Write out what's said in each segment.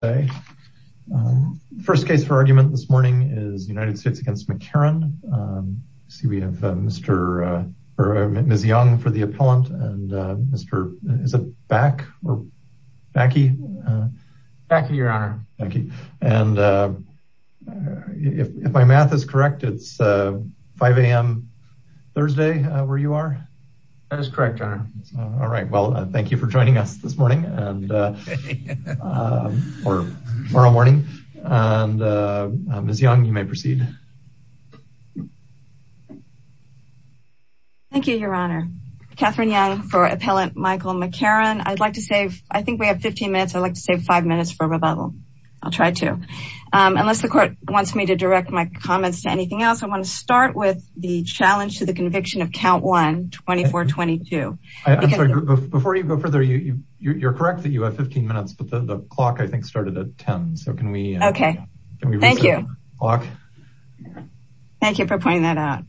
The first case for argument this morning is United States v. McCarron. I see we have Ms. Young for the appellant and Mr. Bakke. If my math is correct, it's 5 a.m. Thursday where you are? All right. Well, thank you for joining us this morning and tomorrow morning. Ms. Young, you may proceed. Thank you, Your Honor. Catherine Young for appellant Michael McCarron. I'd like to save, I think we have 15 minutes. I'd like to save five minutes for rebuttal. I'll try to. Unless the court wants me to direct my comments to anything else, I want to start with the challenge to the Before you go further, you're correct that you have 15 minutes, but the clock, I think, started at 10. So can we? Okay. Thank you. Thank you for pointing that out.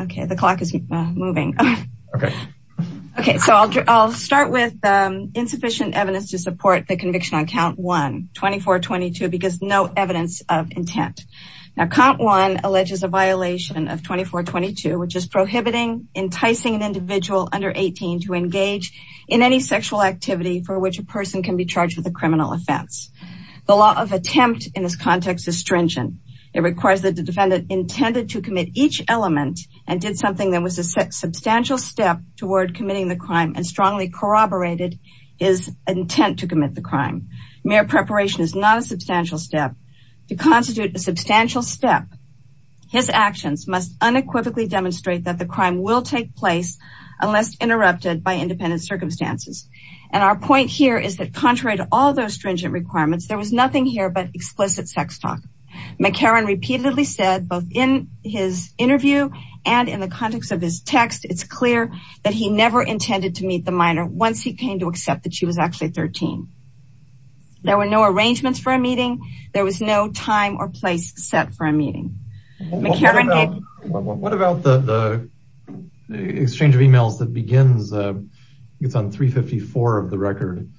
Okay. The clock is moving. Okay. Okay. So I'll start with insufficient evidence to support the violation of 2422, which is prohibiting enticing an individual under 18 to engage in any sexual activity for which a person can be charged with a criminal offense. The law of attempt in this context is stringent. It requires that the defendant intended to commit each element and did something that was a substantial step toward committing the crime and strongly corroborated his intent to commit the crime. Mere preparation is not a substantial step to constitute a substantial step. His actions must unequivocally demonstrate that the crime will take place unless interrupted by independent circumstances. And our point here is that contrary to all those stringent requirements, there was nothing here but explicit sex talk. McCarron repeatedly said, both in his interview and in the context of his text, it's clear that he never intended to meet the minor once he came to accept that she was actually 13. There were no arrangements for a meeting. There was no time or place set for a meeting. What about the exchange of emails that begins, I think it's on 354 of the record,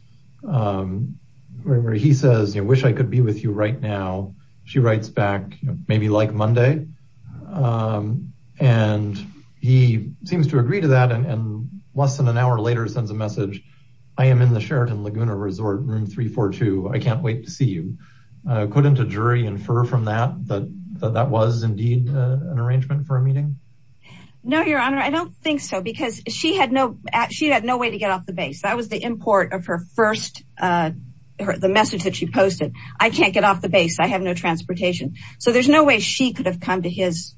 where he says, you know, wish I could be with you right now. She writes back, you know, maybe like Monday. And he seems to agree to that. And less than an hour later sends a message. I am in the room 342. I can't wait to see you. Couldn't a jury infer from that, that that was indeed an arrangement for a meeting? No, your honor, I don't think so. Because she had no, she had no way to get off the base. That was the import of her first, the message that she posted. I can't get off the base. I have no transportation. So there's no way she could have come to his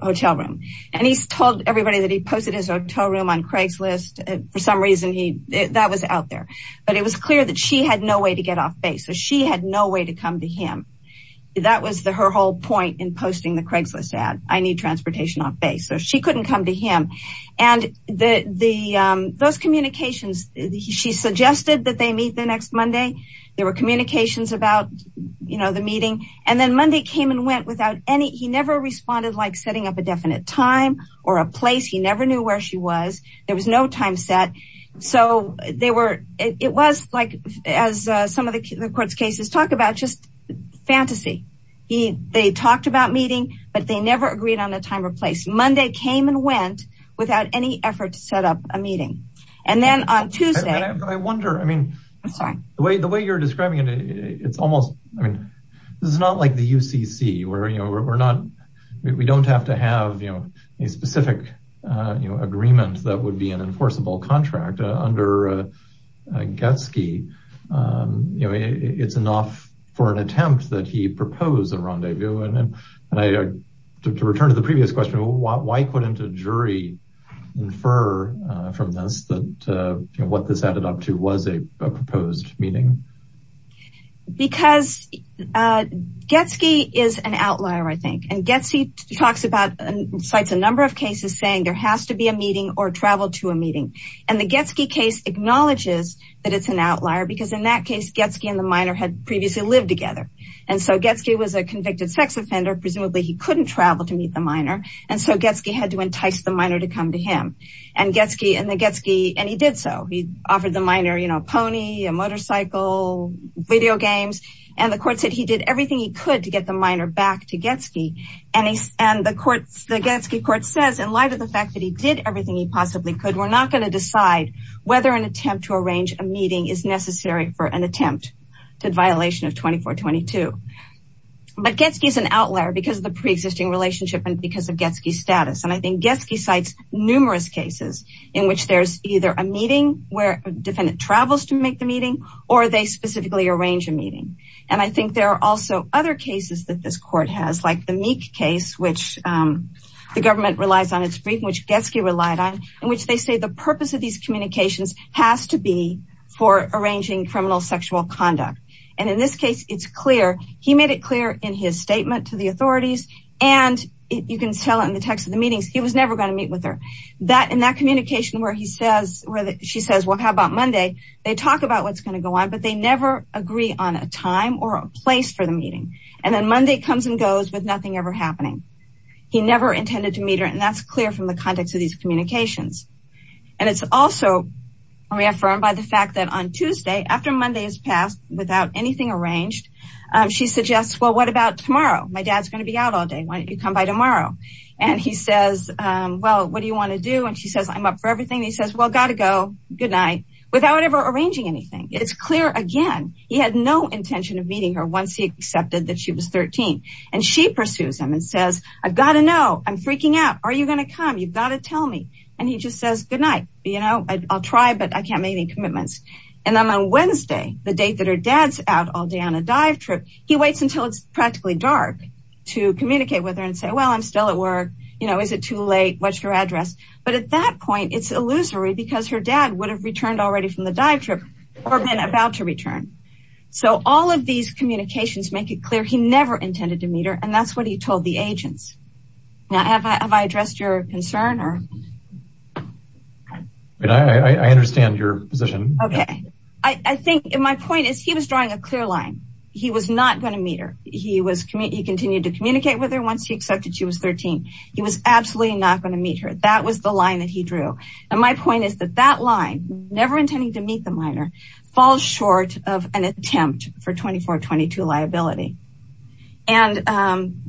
hotel room. And he's told everybody that he posted his hotel room on Craigslist. For some reason, that was out there. But it was clear that she had no way to get off base. So she had no way to come to him. That was the her whole point in posting the Craigslist ad. I need transportation off base. So she couldn't come to him. And those communications, she suggested that they meet the next Monday. There were communications about, you know, the meeting. And then Monday came and went without any, he never responded like setting up a definite time or a place. He never knew where she was. There was no time set. So they were, it was like, as some of the court's cases talk about, just fantasy. He, they talked about meeting, but they never agreed on a time or place. Monday came and went without any effort to set up a meeting. And then on Tuesday, I wonder, I mean, I'm sorry, the way, the way you're describing it, it's almost, I mean, this is not like the UCC where, you know, we're not, we don't have to have, you know, a specific, you know, agreement that would be an enforceable contract under Getsky. You know, it's enough for an attempt that he proposed a rendezvous. And I, to return to the previous question, why couldn't a jury infer from this what this added up to was a proposed meeting? Because Getsky is an outlier, I think. And Getsky talks about, cites a number of cases saying there has to be a meeting or travel to a meeting. And the Getsky case acknowledges that it's an outlier because in that case, Getsky and the minor had previously lived together. And so Getsky was a convicted sex offender. Presumably he couldn't travel to meet the minor. And so Getsky had to entice the minor to come to him. And Getsky and he did so. He offered the minor, you know, pony, a motorcycle, video games. And the court said he did everything he could to get the minor back to Getsky. And the Getsky court says in light of the fact that he did everything he possibly could, we're not going to decide whether an attempt to arrange a meeting is necessary for an attempt to violation of 2422. But Getsky is an outlier because of the preexisting relationship and because of Getsky status. And I think Getsky cites numerous cases in which there's either a meeting where a defendant travels to make the meeting or they specifically arrange a meeting. And I think there are also other cases that this court has, like the Meek case, which the government relies on its brief, which Getsky relied on, in which they say the purpose of these communications has to be for arranging criminal sexual conduct. And in this case, it's clear he made it clear in his statement to the authorities and you can tell in the text of the meetings, he was never going to meet with her. That in that communication where he says, where she says, well, how about Monday? They talk about what's going to go on, but they never agree on a time or a place for the meeting. And then Monday comes and goes with nothing ever happening. He never intended to meet her. And that's clear from the context of these communications. And it's also reaffirmed by the fact that on Tuesday, after Monday is passed without anything arranged, she suggests, well, what about tomorrow? My dad's to be out all day. Why don't you come by tomorrow? And he says, well, what do you want to do? And she says, I'm up for everything. He says, well, got to go. Good night. Without ever arranging anything. It's clear again, he had no intention of meeting her once he accepted that she was 13. And she pursues him and says, I've got to know. I'm freaking out. Are you going to come? You've got to tell me. And he just says, good night. You know, I'll try, but I can't make any commitments. And then on Wednesday, the date that her dad's out all day on a dive trip, he waits until it's practically dark to communicate with her and say, well, I'm still at work. You know, is it too late? What's your address? But at that point, it's illusory because her dad would have returned already from the dive trip or been about to return. So all of these communications make it clear he never intended to meet her. And that's what he told the agents. Now, have I addressed your concern? I understand your position. Okay. I think my point is he was drawing a clear line. He was not going to meet her. He continued to communicate with her once he accepted she was 13. He was absolutely not going to meet her. That was the line that he drew. And my point is that that line, never intending to meet the minor, falls short of an attempt for 24-22 liability. And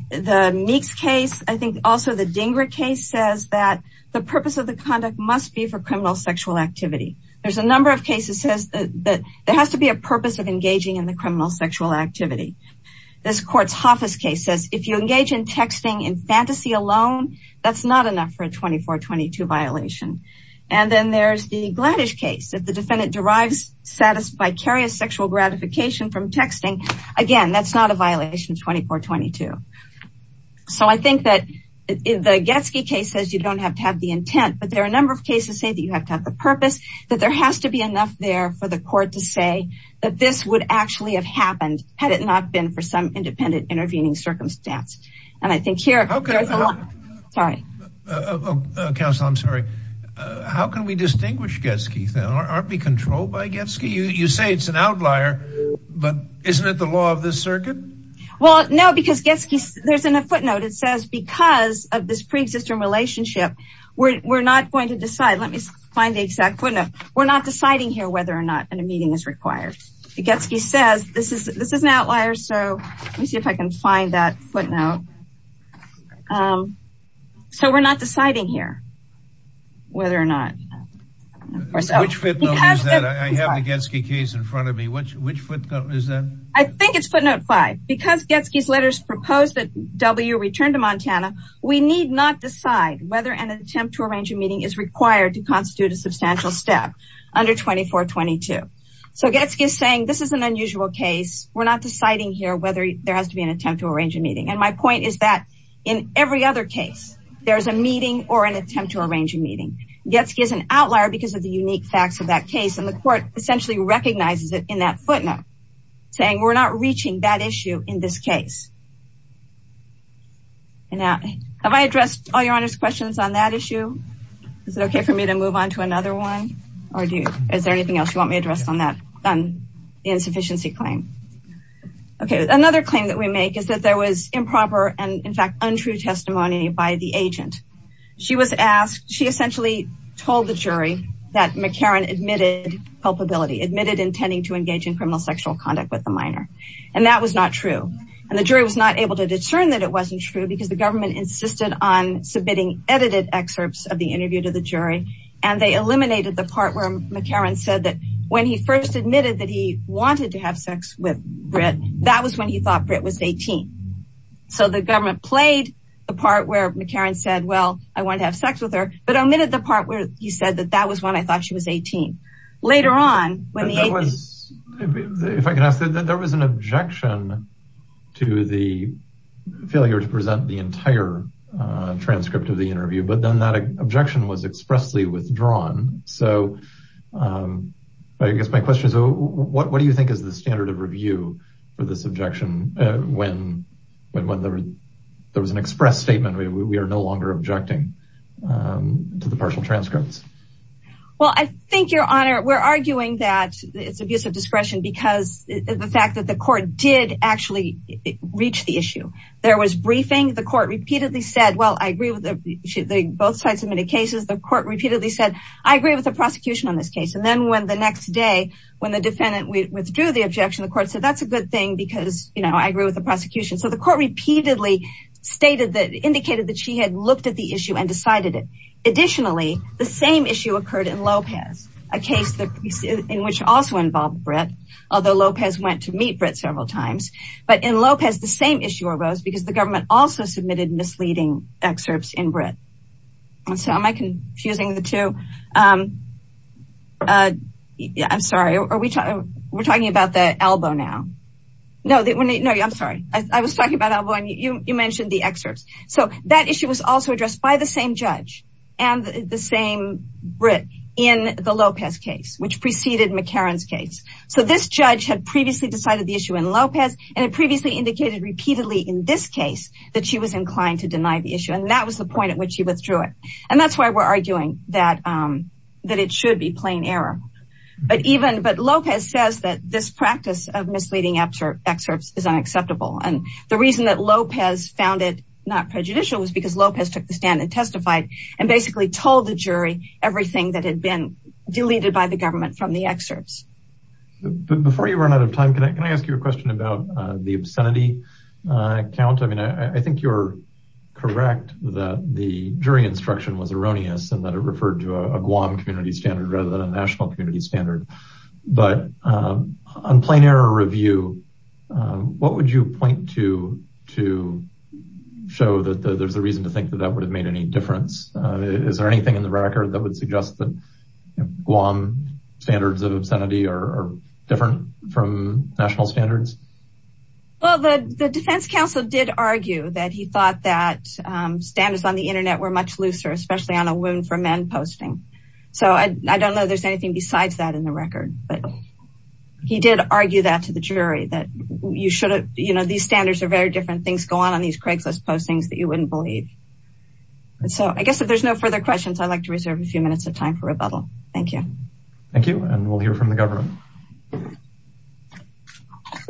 the Meeks case, I think also the Dinger case says that the purpose of the conduct must be for criminal sexual activity. There's a number of cases that says that there has to be a purpose of engaging in the criminal sexual activity. This court's Hoffa's case says if you engage in texting and fantasy alone, that's not enough for a 24-22 violation. And then there's the Gladish case that the defendant derives satisficarious sexual gratification from texting. Again, that's not a violation 24-22. So I think that the Getsky case says you don't have to have the intent, but there are a number of cases say that you have to have the purpose, that there has to be enough there for the court to say that this would actually have happened had it not been for some independent intervening circumstance. And I think here, sorry. Counsel, I'm sorry. How can we distinguish Getsky? Aren't we controlled by Getsky? You say it's an outlier, but isn't it the law of this circuit? Well, no, because Getsky, there's a footnote that says because of this pre-existing relationship, we're not going to decide. Let me find the exact footnote. We're not deciding here whether or not a meeting is required. Getsky says this is an outlier. So let me see if I can find that footnote. So we're not deciding here whether or not. Which footnote is that? I have the Getsky case in front of me. Which footnote is that? I think it's footnote five. Because Getsky's letters proposed that W returned to Montana, we need not decide whether an attempt to arrange a meeting is required to constitute a substantial step under 2422. So Getsky is saying this is an unusual case. We're not deciding here whether there has to be an attempt to arrange a meeting. And my point is that in every other case, there's a meeting or an attempt to arrange a meeting. Getsky is an outlier because of the unique facts of that case. And the court essentially recognizes it in that footnote saying we're not reaching that issue in this case. And now have I addressed all your honor's questions on that issue? Is it okay for me to move on to another one? Or do you, is there anything else you want me addressed on that insufficiency claim? Okay. Another claim that we make is that there was improper and in fact, untrue testimony by the agent. She was asked, she essentially told the jury that McCarran admitted culpability, admitted intending to engage in criminal sexual conduct with the minor. And that was not true. And the jury was not able to determine that it wasn't true because the government insisted on submitting edited excerpts of the interview to the jury. And they eliminated the part where McCarran said that when he first admitted that he wanted to have sex with Britt, that was when he thought Britt was 18. So the government played the part where McCarran said, well, I want to have sex with her, but omitted the part where he said that that was when I thought she was 18. Later on, when he was, if I can ask that there the failure to present the entire transcript of the interview, but then that objection was expressly withdrawn. So I guess my question is, what do you think is the standard of review for this objection? When there was an express statement, we are no longer objecting to the partial transcripts. Well, I think Your Honor, we're arguing that it's abuse of discretion because of the fact that the court did actually reach the issue. There was briefing. The court repeatedly said, well, I agree with both sides of many cases. The court repeatedly said, I agree with the prosecution on this case. And then when the next day, when the defendant withdrew the objection, the court said, that's a good thing because I agree with the prosecution. So the court repeatedly stated that, indicated that she had looked at the issue and decided it. Additionally, the same issue occurred in Lopez, a case in which also involved Brit, although Lopez went to meet Brit several times, but in Lopez, the same issue arose because the government also submitted misleading excerpts in Brit. So am I confusing the two? Yeah, I'm sorry. Are we talking about the elbow now? No, I'm sorry. I was talking about elbow and you mentioned the excerpts. So that issue was also addressed by the same judge and the same Brit in the Lopez case, which preceded McCarran's case. So this judge had previously decided the issue in Lopez, and it previously indicated repeatedly in this case that she was inclined to deny the issue. And that was the point at which he withdrew it. And that's why we're arguing that it should be plain error. But Lopez says that this practice of misleading excerpts is unacceptable. And the reason that Lopez found it not prejudicial was because Lopez took the stand and testified and basically told the jury everything that had been deleted by the government from the excerpts. Before you run out of time, can I ask you a question about the obscenity count? I mean, I think you're correct that the jury instruction was erroneous and that it referred to a Guam community standard rather than a national community standard. But on plain error review, what would you point to, to show that there's a reason to think that that would have made any difference? Is there anything in the record that would suggest that Guam standards of obscenity are different from national standards? Well, the defense counsel did argue that he thought that standards on the internet were much looser, especially on a Wound for Men posting. So I don't know if there's anything besides that in the record, but he did argue that to the jury that you should have, you know, these standards are very different. Things go on on these Craigslist postings that you wouldn't believe. So I guess if there's no further questions, I'd like to reserve a few minutes of time for rebuttal. Thank you. Thank you. And we'll hear from the government. Good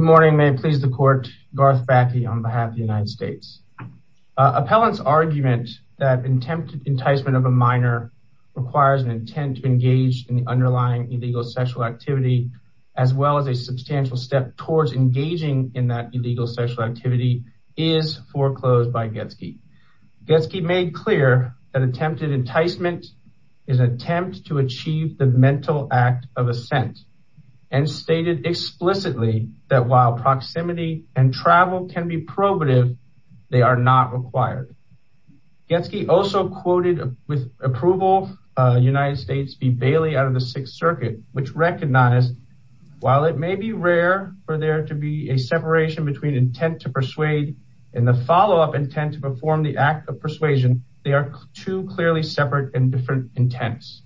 morning. May it please the court. Garth Bathey on behalf of the United States. Appellant's argument that attempted enticement of a minor requires an intent to engage in the underlying illegal sexual activity, as well as a substantial step towards engaging in that illegal sexual activity is foreclosed by Getsky. Getsky made clear that attempted enticement is an attempt to achieve the mental act of assent and stated explicitly that while proximity and travel can be probative, they are not required. Getsky also quoted with approval, United States v. Bailey out of the Sixth Circuit, which recognized while it may be rare for there to be a separation between intent to persuade and the follow up intent to perform the act of persuasion, they are two clearly separate and different intents.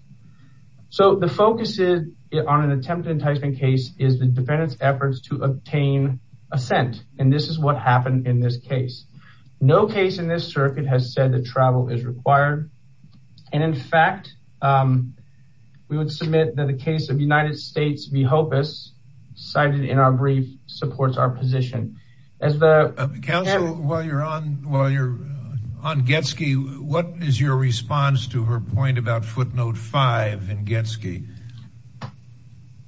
So the focus is on an attempted enticement case is the defendant's efforts to obtain assent. And this is what happened in this case. No case in this circuit has said that travel is required. And in fact, we would submit that the case of United States v. Hopus cited in our brief supports our position. Counsel, while you're on Getsky, what is your response to her point about footnote 5 in Getsky?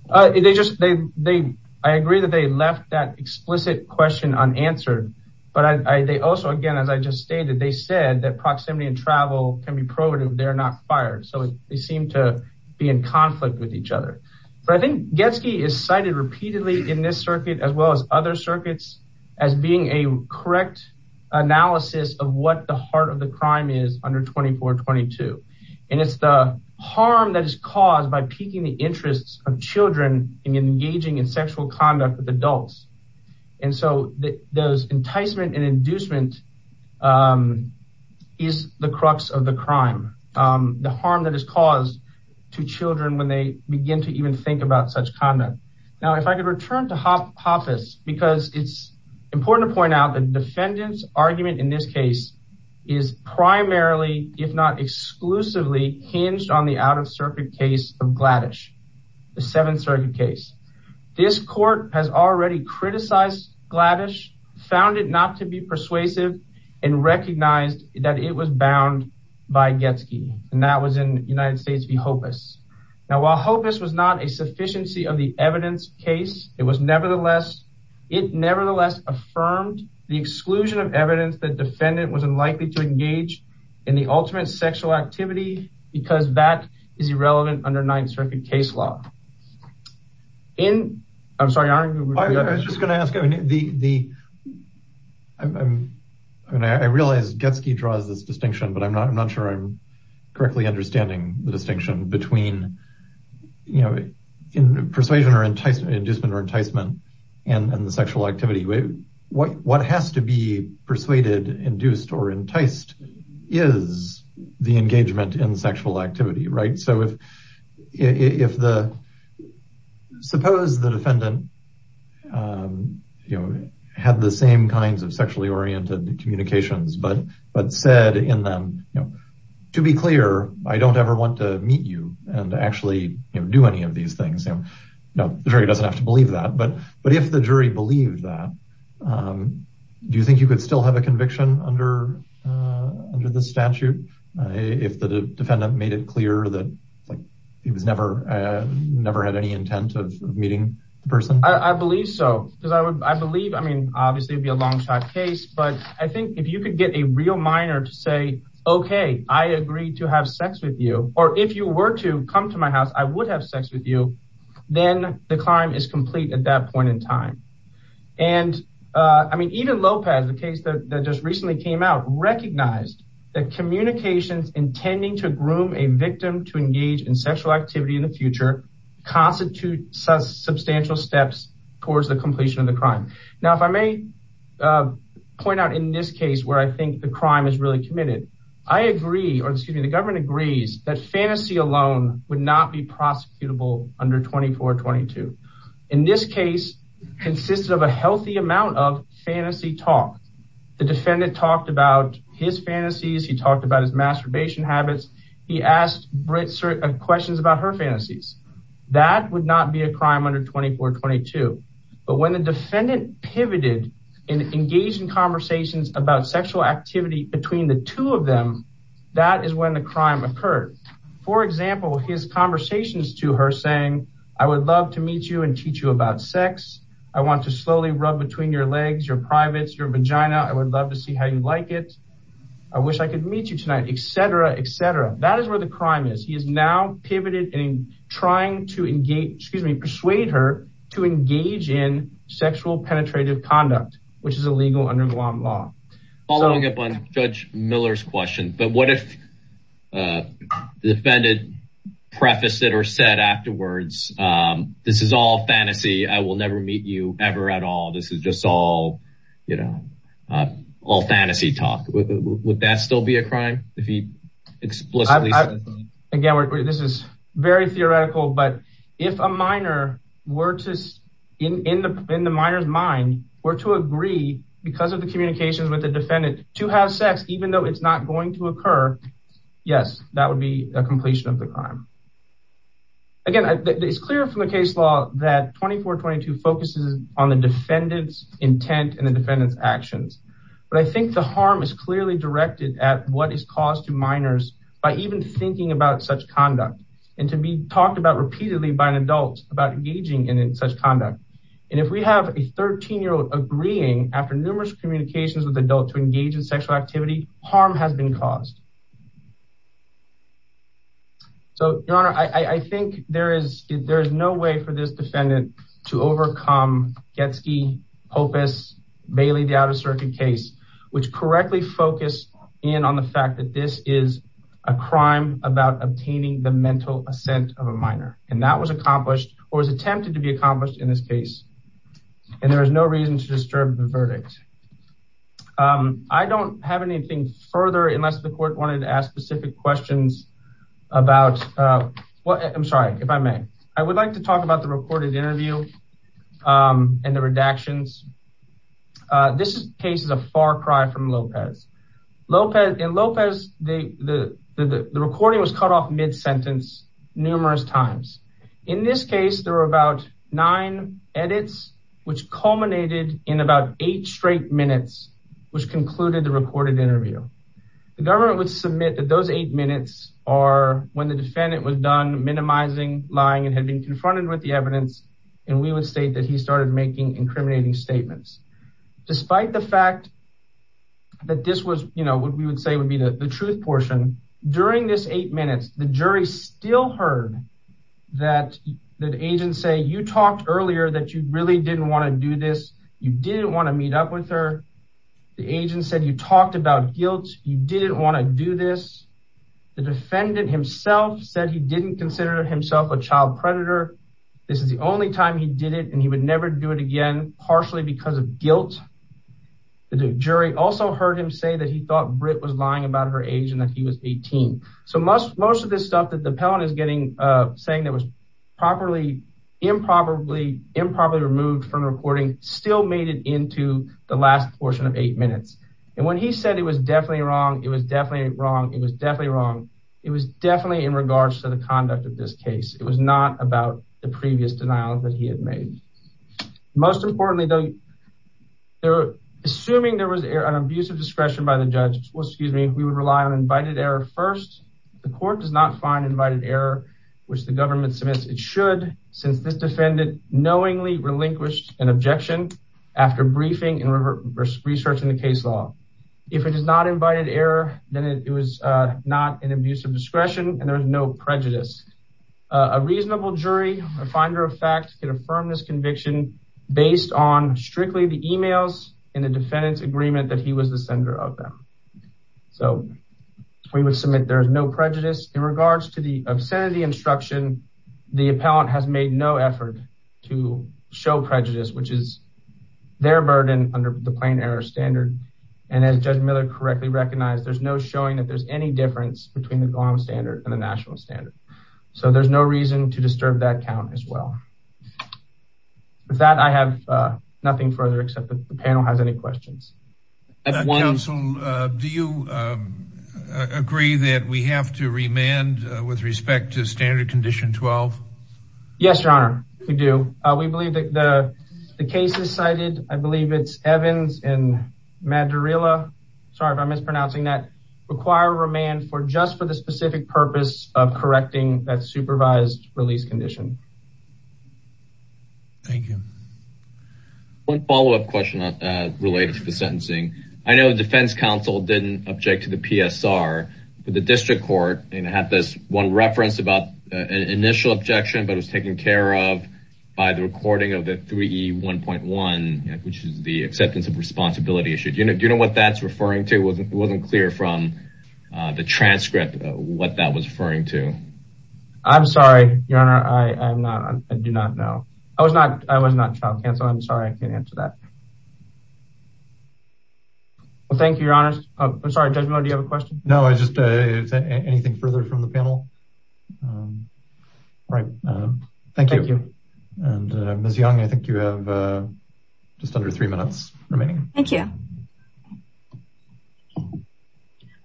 They just they, they, I agree that they left that explicit question unanswered. But I they also again, as I just stated, they said that proximity and travel can be probative, they're not fired. So they seem to be in conflict with each other. But I think Getsky is cited repeatedly in this circuit, as well as other circuits, as being a correct analysis of what the heart of the crime is under 2422. And it's the harm that is caused by piquing the interests of children in engaging in sexual conduct with adults. And so that those enticement and inducement is the crux of the crime, the harm that is caused to children when they begin to even think about such conduct. Now, if I could return to Hopus, because it's important to point out the defendant's argument in this case, is primarily if not exclusively hinged on the out of circuit case of Gladysh, the Seventh Circuit case, this court has already criticized Gladysh, found it not to be persuasive, and recognized that it was bound by Getsky. And that was in United States v. Hopus. Now, while Hopus was not a sufficiency of the evidence case, it was nevertheless, it nevertheless affirmed the exclusion of evidence that defendant was unlikely to engage in the ultimate sexual activity, because that is irrelevant under Ninth Circuit case law. In, I'm sorry, I was just going to ask, I mean, the, the, I mean, I realized Getsky draws this distinction, but I'm not, I'm not sure I'm correctly understanding the distinction between, you know, in persuasion or enticement, inducement or enticement, and the sexual activity. What, what has to be persuaded, induced, or enticed is the engagement in sexual activity, right? So if, if the, suppose the defendant, you know, had the same kinds of sexually oriented communications, but, but said in them, you know, to be clear, I don't ever want to meet you and actually, you know, do any of these things. You know, the jury doesn't have to believe that, but, but if the jury believed that, do you think you could still have a conviction under, under the statute? If the defendant made it clear that like he was never, never had any intent of meeting the person? I believe so, because I would, I believe, I mean, obviously it'd be a long shot case, but I think if you could get a real minor to say, okay, I agree to have sex with you, or if you were to come to my house, I would have sex with you. Then the crime is complete at that point in time. And I mean, even Lopez, the case that just recently came out, recognized that communications intending to groom a victim to engage in sexual activity in the future, constitute substantial steps towards the completion of the crime. Now, if I may point out in this case where I think the agrees that fantasy alone would not be prosecutable under 2422. In this case, consisted of a healthy amount of fantasy talk. The defendant talked about his fantasies. He talked about his masturbation habits. He asked Brit questions about her fantasies. That would not be a crime under 2422. But when the defendant pivoted and engaged in conversations about the crime occurred, for example, his conversations to her saying, I would love to meet you and teach you about sex. I want to slowly rub between your legs, your privates, your vagina. I would love to see how you like it. I wish I could meet you tonight, et cetera, et cetera. That is where the crime is. He is now pivoted and trying to engage, excuse me, persuade her to engage in sexual penetrative conduct, which is illegal under Guam law. Following up on Judge Miller's question, but what if the defendant prefaced it or said afterwards, this is all fantasy. I will never meet you ever at all. This is just all, you know, all fantasy talk. Would that still be a crime? Again, this is very theoretical, but if a minor were to, in the minor's mind, were to agree because of the communications with the defendant to have sex, even though it's not going to occur, yes, that would be a completion of the crime. Again, it's clear from the case law that 2422 focuses on the defendant's intent and the defendant's actions. But I think the harm is clearly directed at what is caused to minors by even thinking about such conduct and to be talked about repeatedly by an adult about engaging in such conduct. And if we have a 13-year-old agreeing after numerous communications with adult to engage in sexual activity, harm has been caused. So, Your Honor, I think there is no way for this defendant to overcome Getsky, Hopus, Bailey, the Outer Circuit case, which correctly focused in on the fact that this is a crime about obtaining the mental assent of a minor. And that was accomplished or was attempted to be accomplished in this case. And there is no reason to disturb the verdict. I don't have anything further unless the court wanted to ask specific questions about what, I'm sorry, if I may. I would like to talk about the recorded interview and the redactions. This case is a far cry from Lopez. In Lopez, the recording was cut off mid-sentence numerous times. In this case, there were about nine edits, which culminated in about eight straight minutes, which concluded the recorded interview. The government would submit that those eight minutes are when the defendant was done minimizing, lying, and had been confronted with the evidence. And we would state that he started making incriminating statements. Despite the fact that this was, you know, what we would say would the truth portion. During this eight minutes, the jury still heard that the agent say, you talked earlier that you really didn't want to do this. You didn't want to meet up with her. The agent said, you talked about guilt. You didn't want to do this. The defendant himself said he didn't consider himself a child predator. This is the only time he did it and he would never do it again, partially because of guilt. The jury also heard him say that he thought Britt was lying about her age and that he was 18. So most of this stuff that the appellant is getting, saying that was properly, improperly, improperly removed from recording still made it into the last portion of eight minutes. And when he said it was definitely wrong, it was definitely wrong. It was definitely wrong. It was definitely in regards to the conduct of this case. It was not about the previous denial that he had made. Most importantly though, assuming there was an abuse of discretion by the judge, we would rely on invited error first. The court does not find invited error, which the government submits it should, since this defendant knowingly relinquished an objection after briefing and researching the case law. If it is not invited error, then it was not an abuse of discretion and there was no prejudice. A reasonable jury, a finder of fact, can affirm this conviction based on strictly the emails and the defendant's agreement that he was the sender of them. So we would submit there is no prejudice in regards to the obscenity instruction. The appellant has made no effort to show prejudice, which is their burden under the plain error standard. And as Judge Miller correctly recognized, there's no showing that there's any difference between the Glamour standard and the national standard. So there's no reason to disturb that count as well. With that, I have nothing further, except that the panel has any questions. Counsel, do you agree that we have to remand with respect to standard condition 12? Yes, your honor, we do. We believe that the cases cited, I believe it's Evans and for the specific purpose of correcting that supervised release condition. Thank you. One follow-up question related to the sentencing. I know the defense counsel didn't object to the PSR, but the district court had this one reference about an initial objection, but it was taken care of by the recording of the 3E1.1, which is the acceptance of responsibility issue. Do you know what that's referring to? It wasn't clear from the transcript what that was referring to. I'm sorry, your honor. I do not know. I was not child counsel. I'm sorry. I can't answer that. Well, thank you, your honor. I'm sorry, Judge Miller, do you have a question? No, I just, anything further from the panel? Right. Thank you. And Ms. Young, I think you have just under three minutes remaining. Thank you.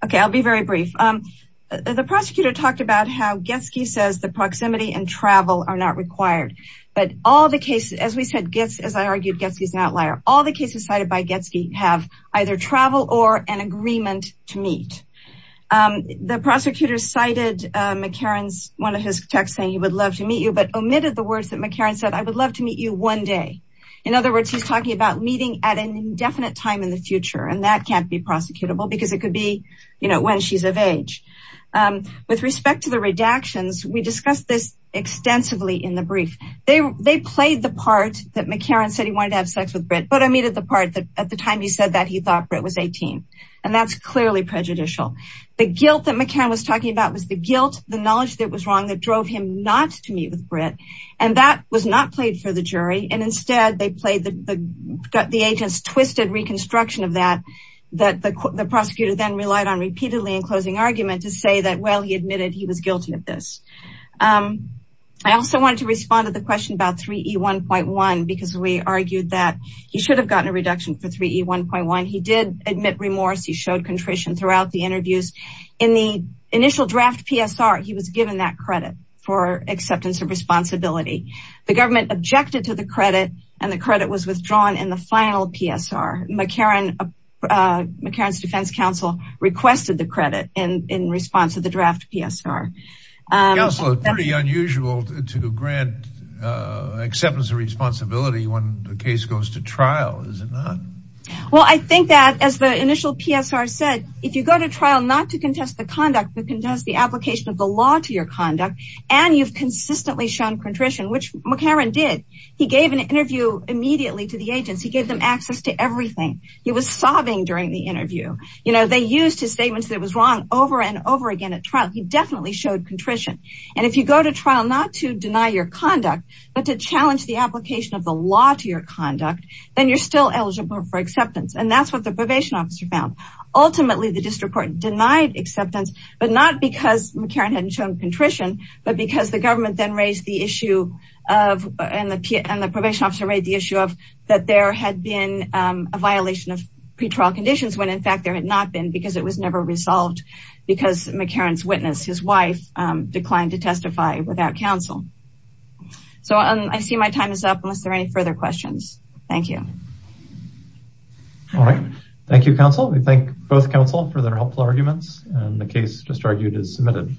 Okay, I'll be very brief. The prosecutor talked about how Getsky says the proximity and travel are not required, but all the cases, as we said, as I argued, Getsky is not liar. All the cases cited by Getsky have either travel or an agreement to meet. The prosecutor cited McCarran's, one of his texts saying he would love to meet you, but omitted the words that McCarran said, I would love meet you one day. In other words, he's talking about meeting at an indefinite time in the future, and that can't be prosecutable because it could be, you know, when she's of age. With respect to the redactions, we discussed this extensively in the brief. They played the part that McCarran said he wanted to have sex with Britt, but omitted the part that at the time he said that he thought Britt was 18. And that's clearly prejudicial. The guilt that McCarran was talking about was the guilt, the knowledge that it was wrong that drove him not to meet with Britt. And that was not played for the jury. And instead they played the, got the agents twisted reconstruction of that, that the prosecutor then relied on repeatedly in closing argument to say that, well, he admitted he was guilty of this. I also wanted to respond to the question about 3E1.1 because we argued that he should have gotten a reduction for 3E1.1. He did admit remorse. He showed contrition throughout the interviews. In the initial draft PSR, he was given that credit for acceptance of responsibility. The government objected to the credit and the credit was withdrawn in the final PSR. McCarran, McCarran's defense counsel requested the credit in response to the draft PSR. It's pretty unusual to grant acceptance of responsibility when the case goes to trial, is it not? Well, I think that as the initial PSR said, if you go to trial, not to and you've consistently shown contrition, which McCarran did, he gave an interview immediately to the agents. He gave them access to everything. He was sobbing during the interview. You know, they used his statements that it was wrong over and over again at trial. He definitely showed contrition. And if you go to trial, not to deny your conduct, but to challenge the application of the law to your conduct, then you're still eligible for acceptance. And that's what the probation officer found. Ultimately, the district court denied acceptance, but not because McCarran hadn't shown contrition, but because the government then raised the issue of, and the probation officer raised the issue of that there had been a violation of pretrial conditions when in fact there had not been because it was never resolved because McCarran's witness, his wife, declined to testify without counsel. So I see my time is up unless there are any further questions. Thank you. All right. Thank you, counsel. We thank both counsel for their helpful arguments and the case just argued is submitted.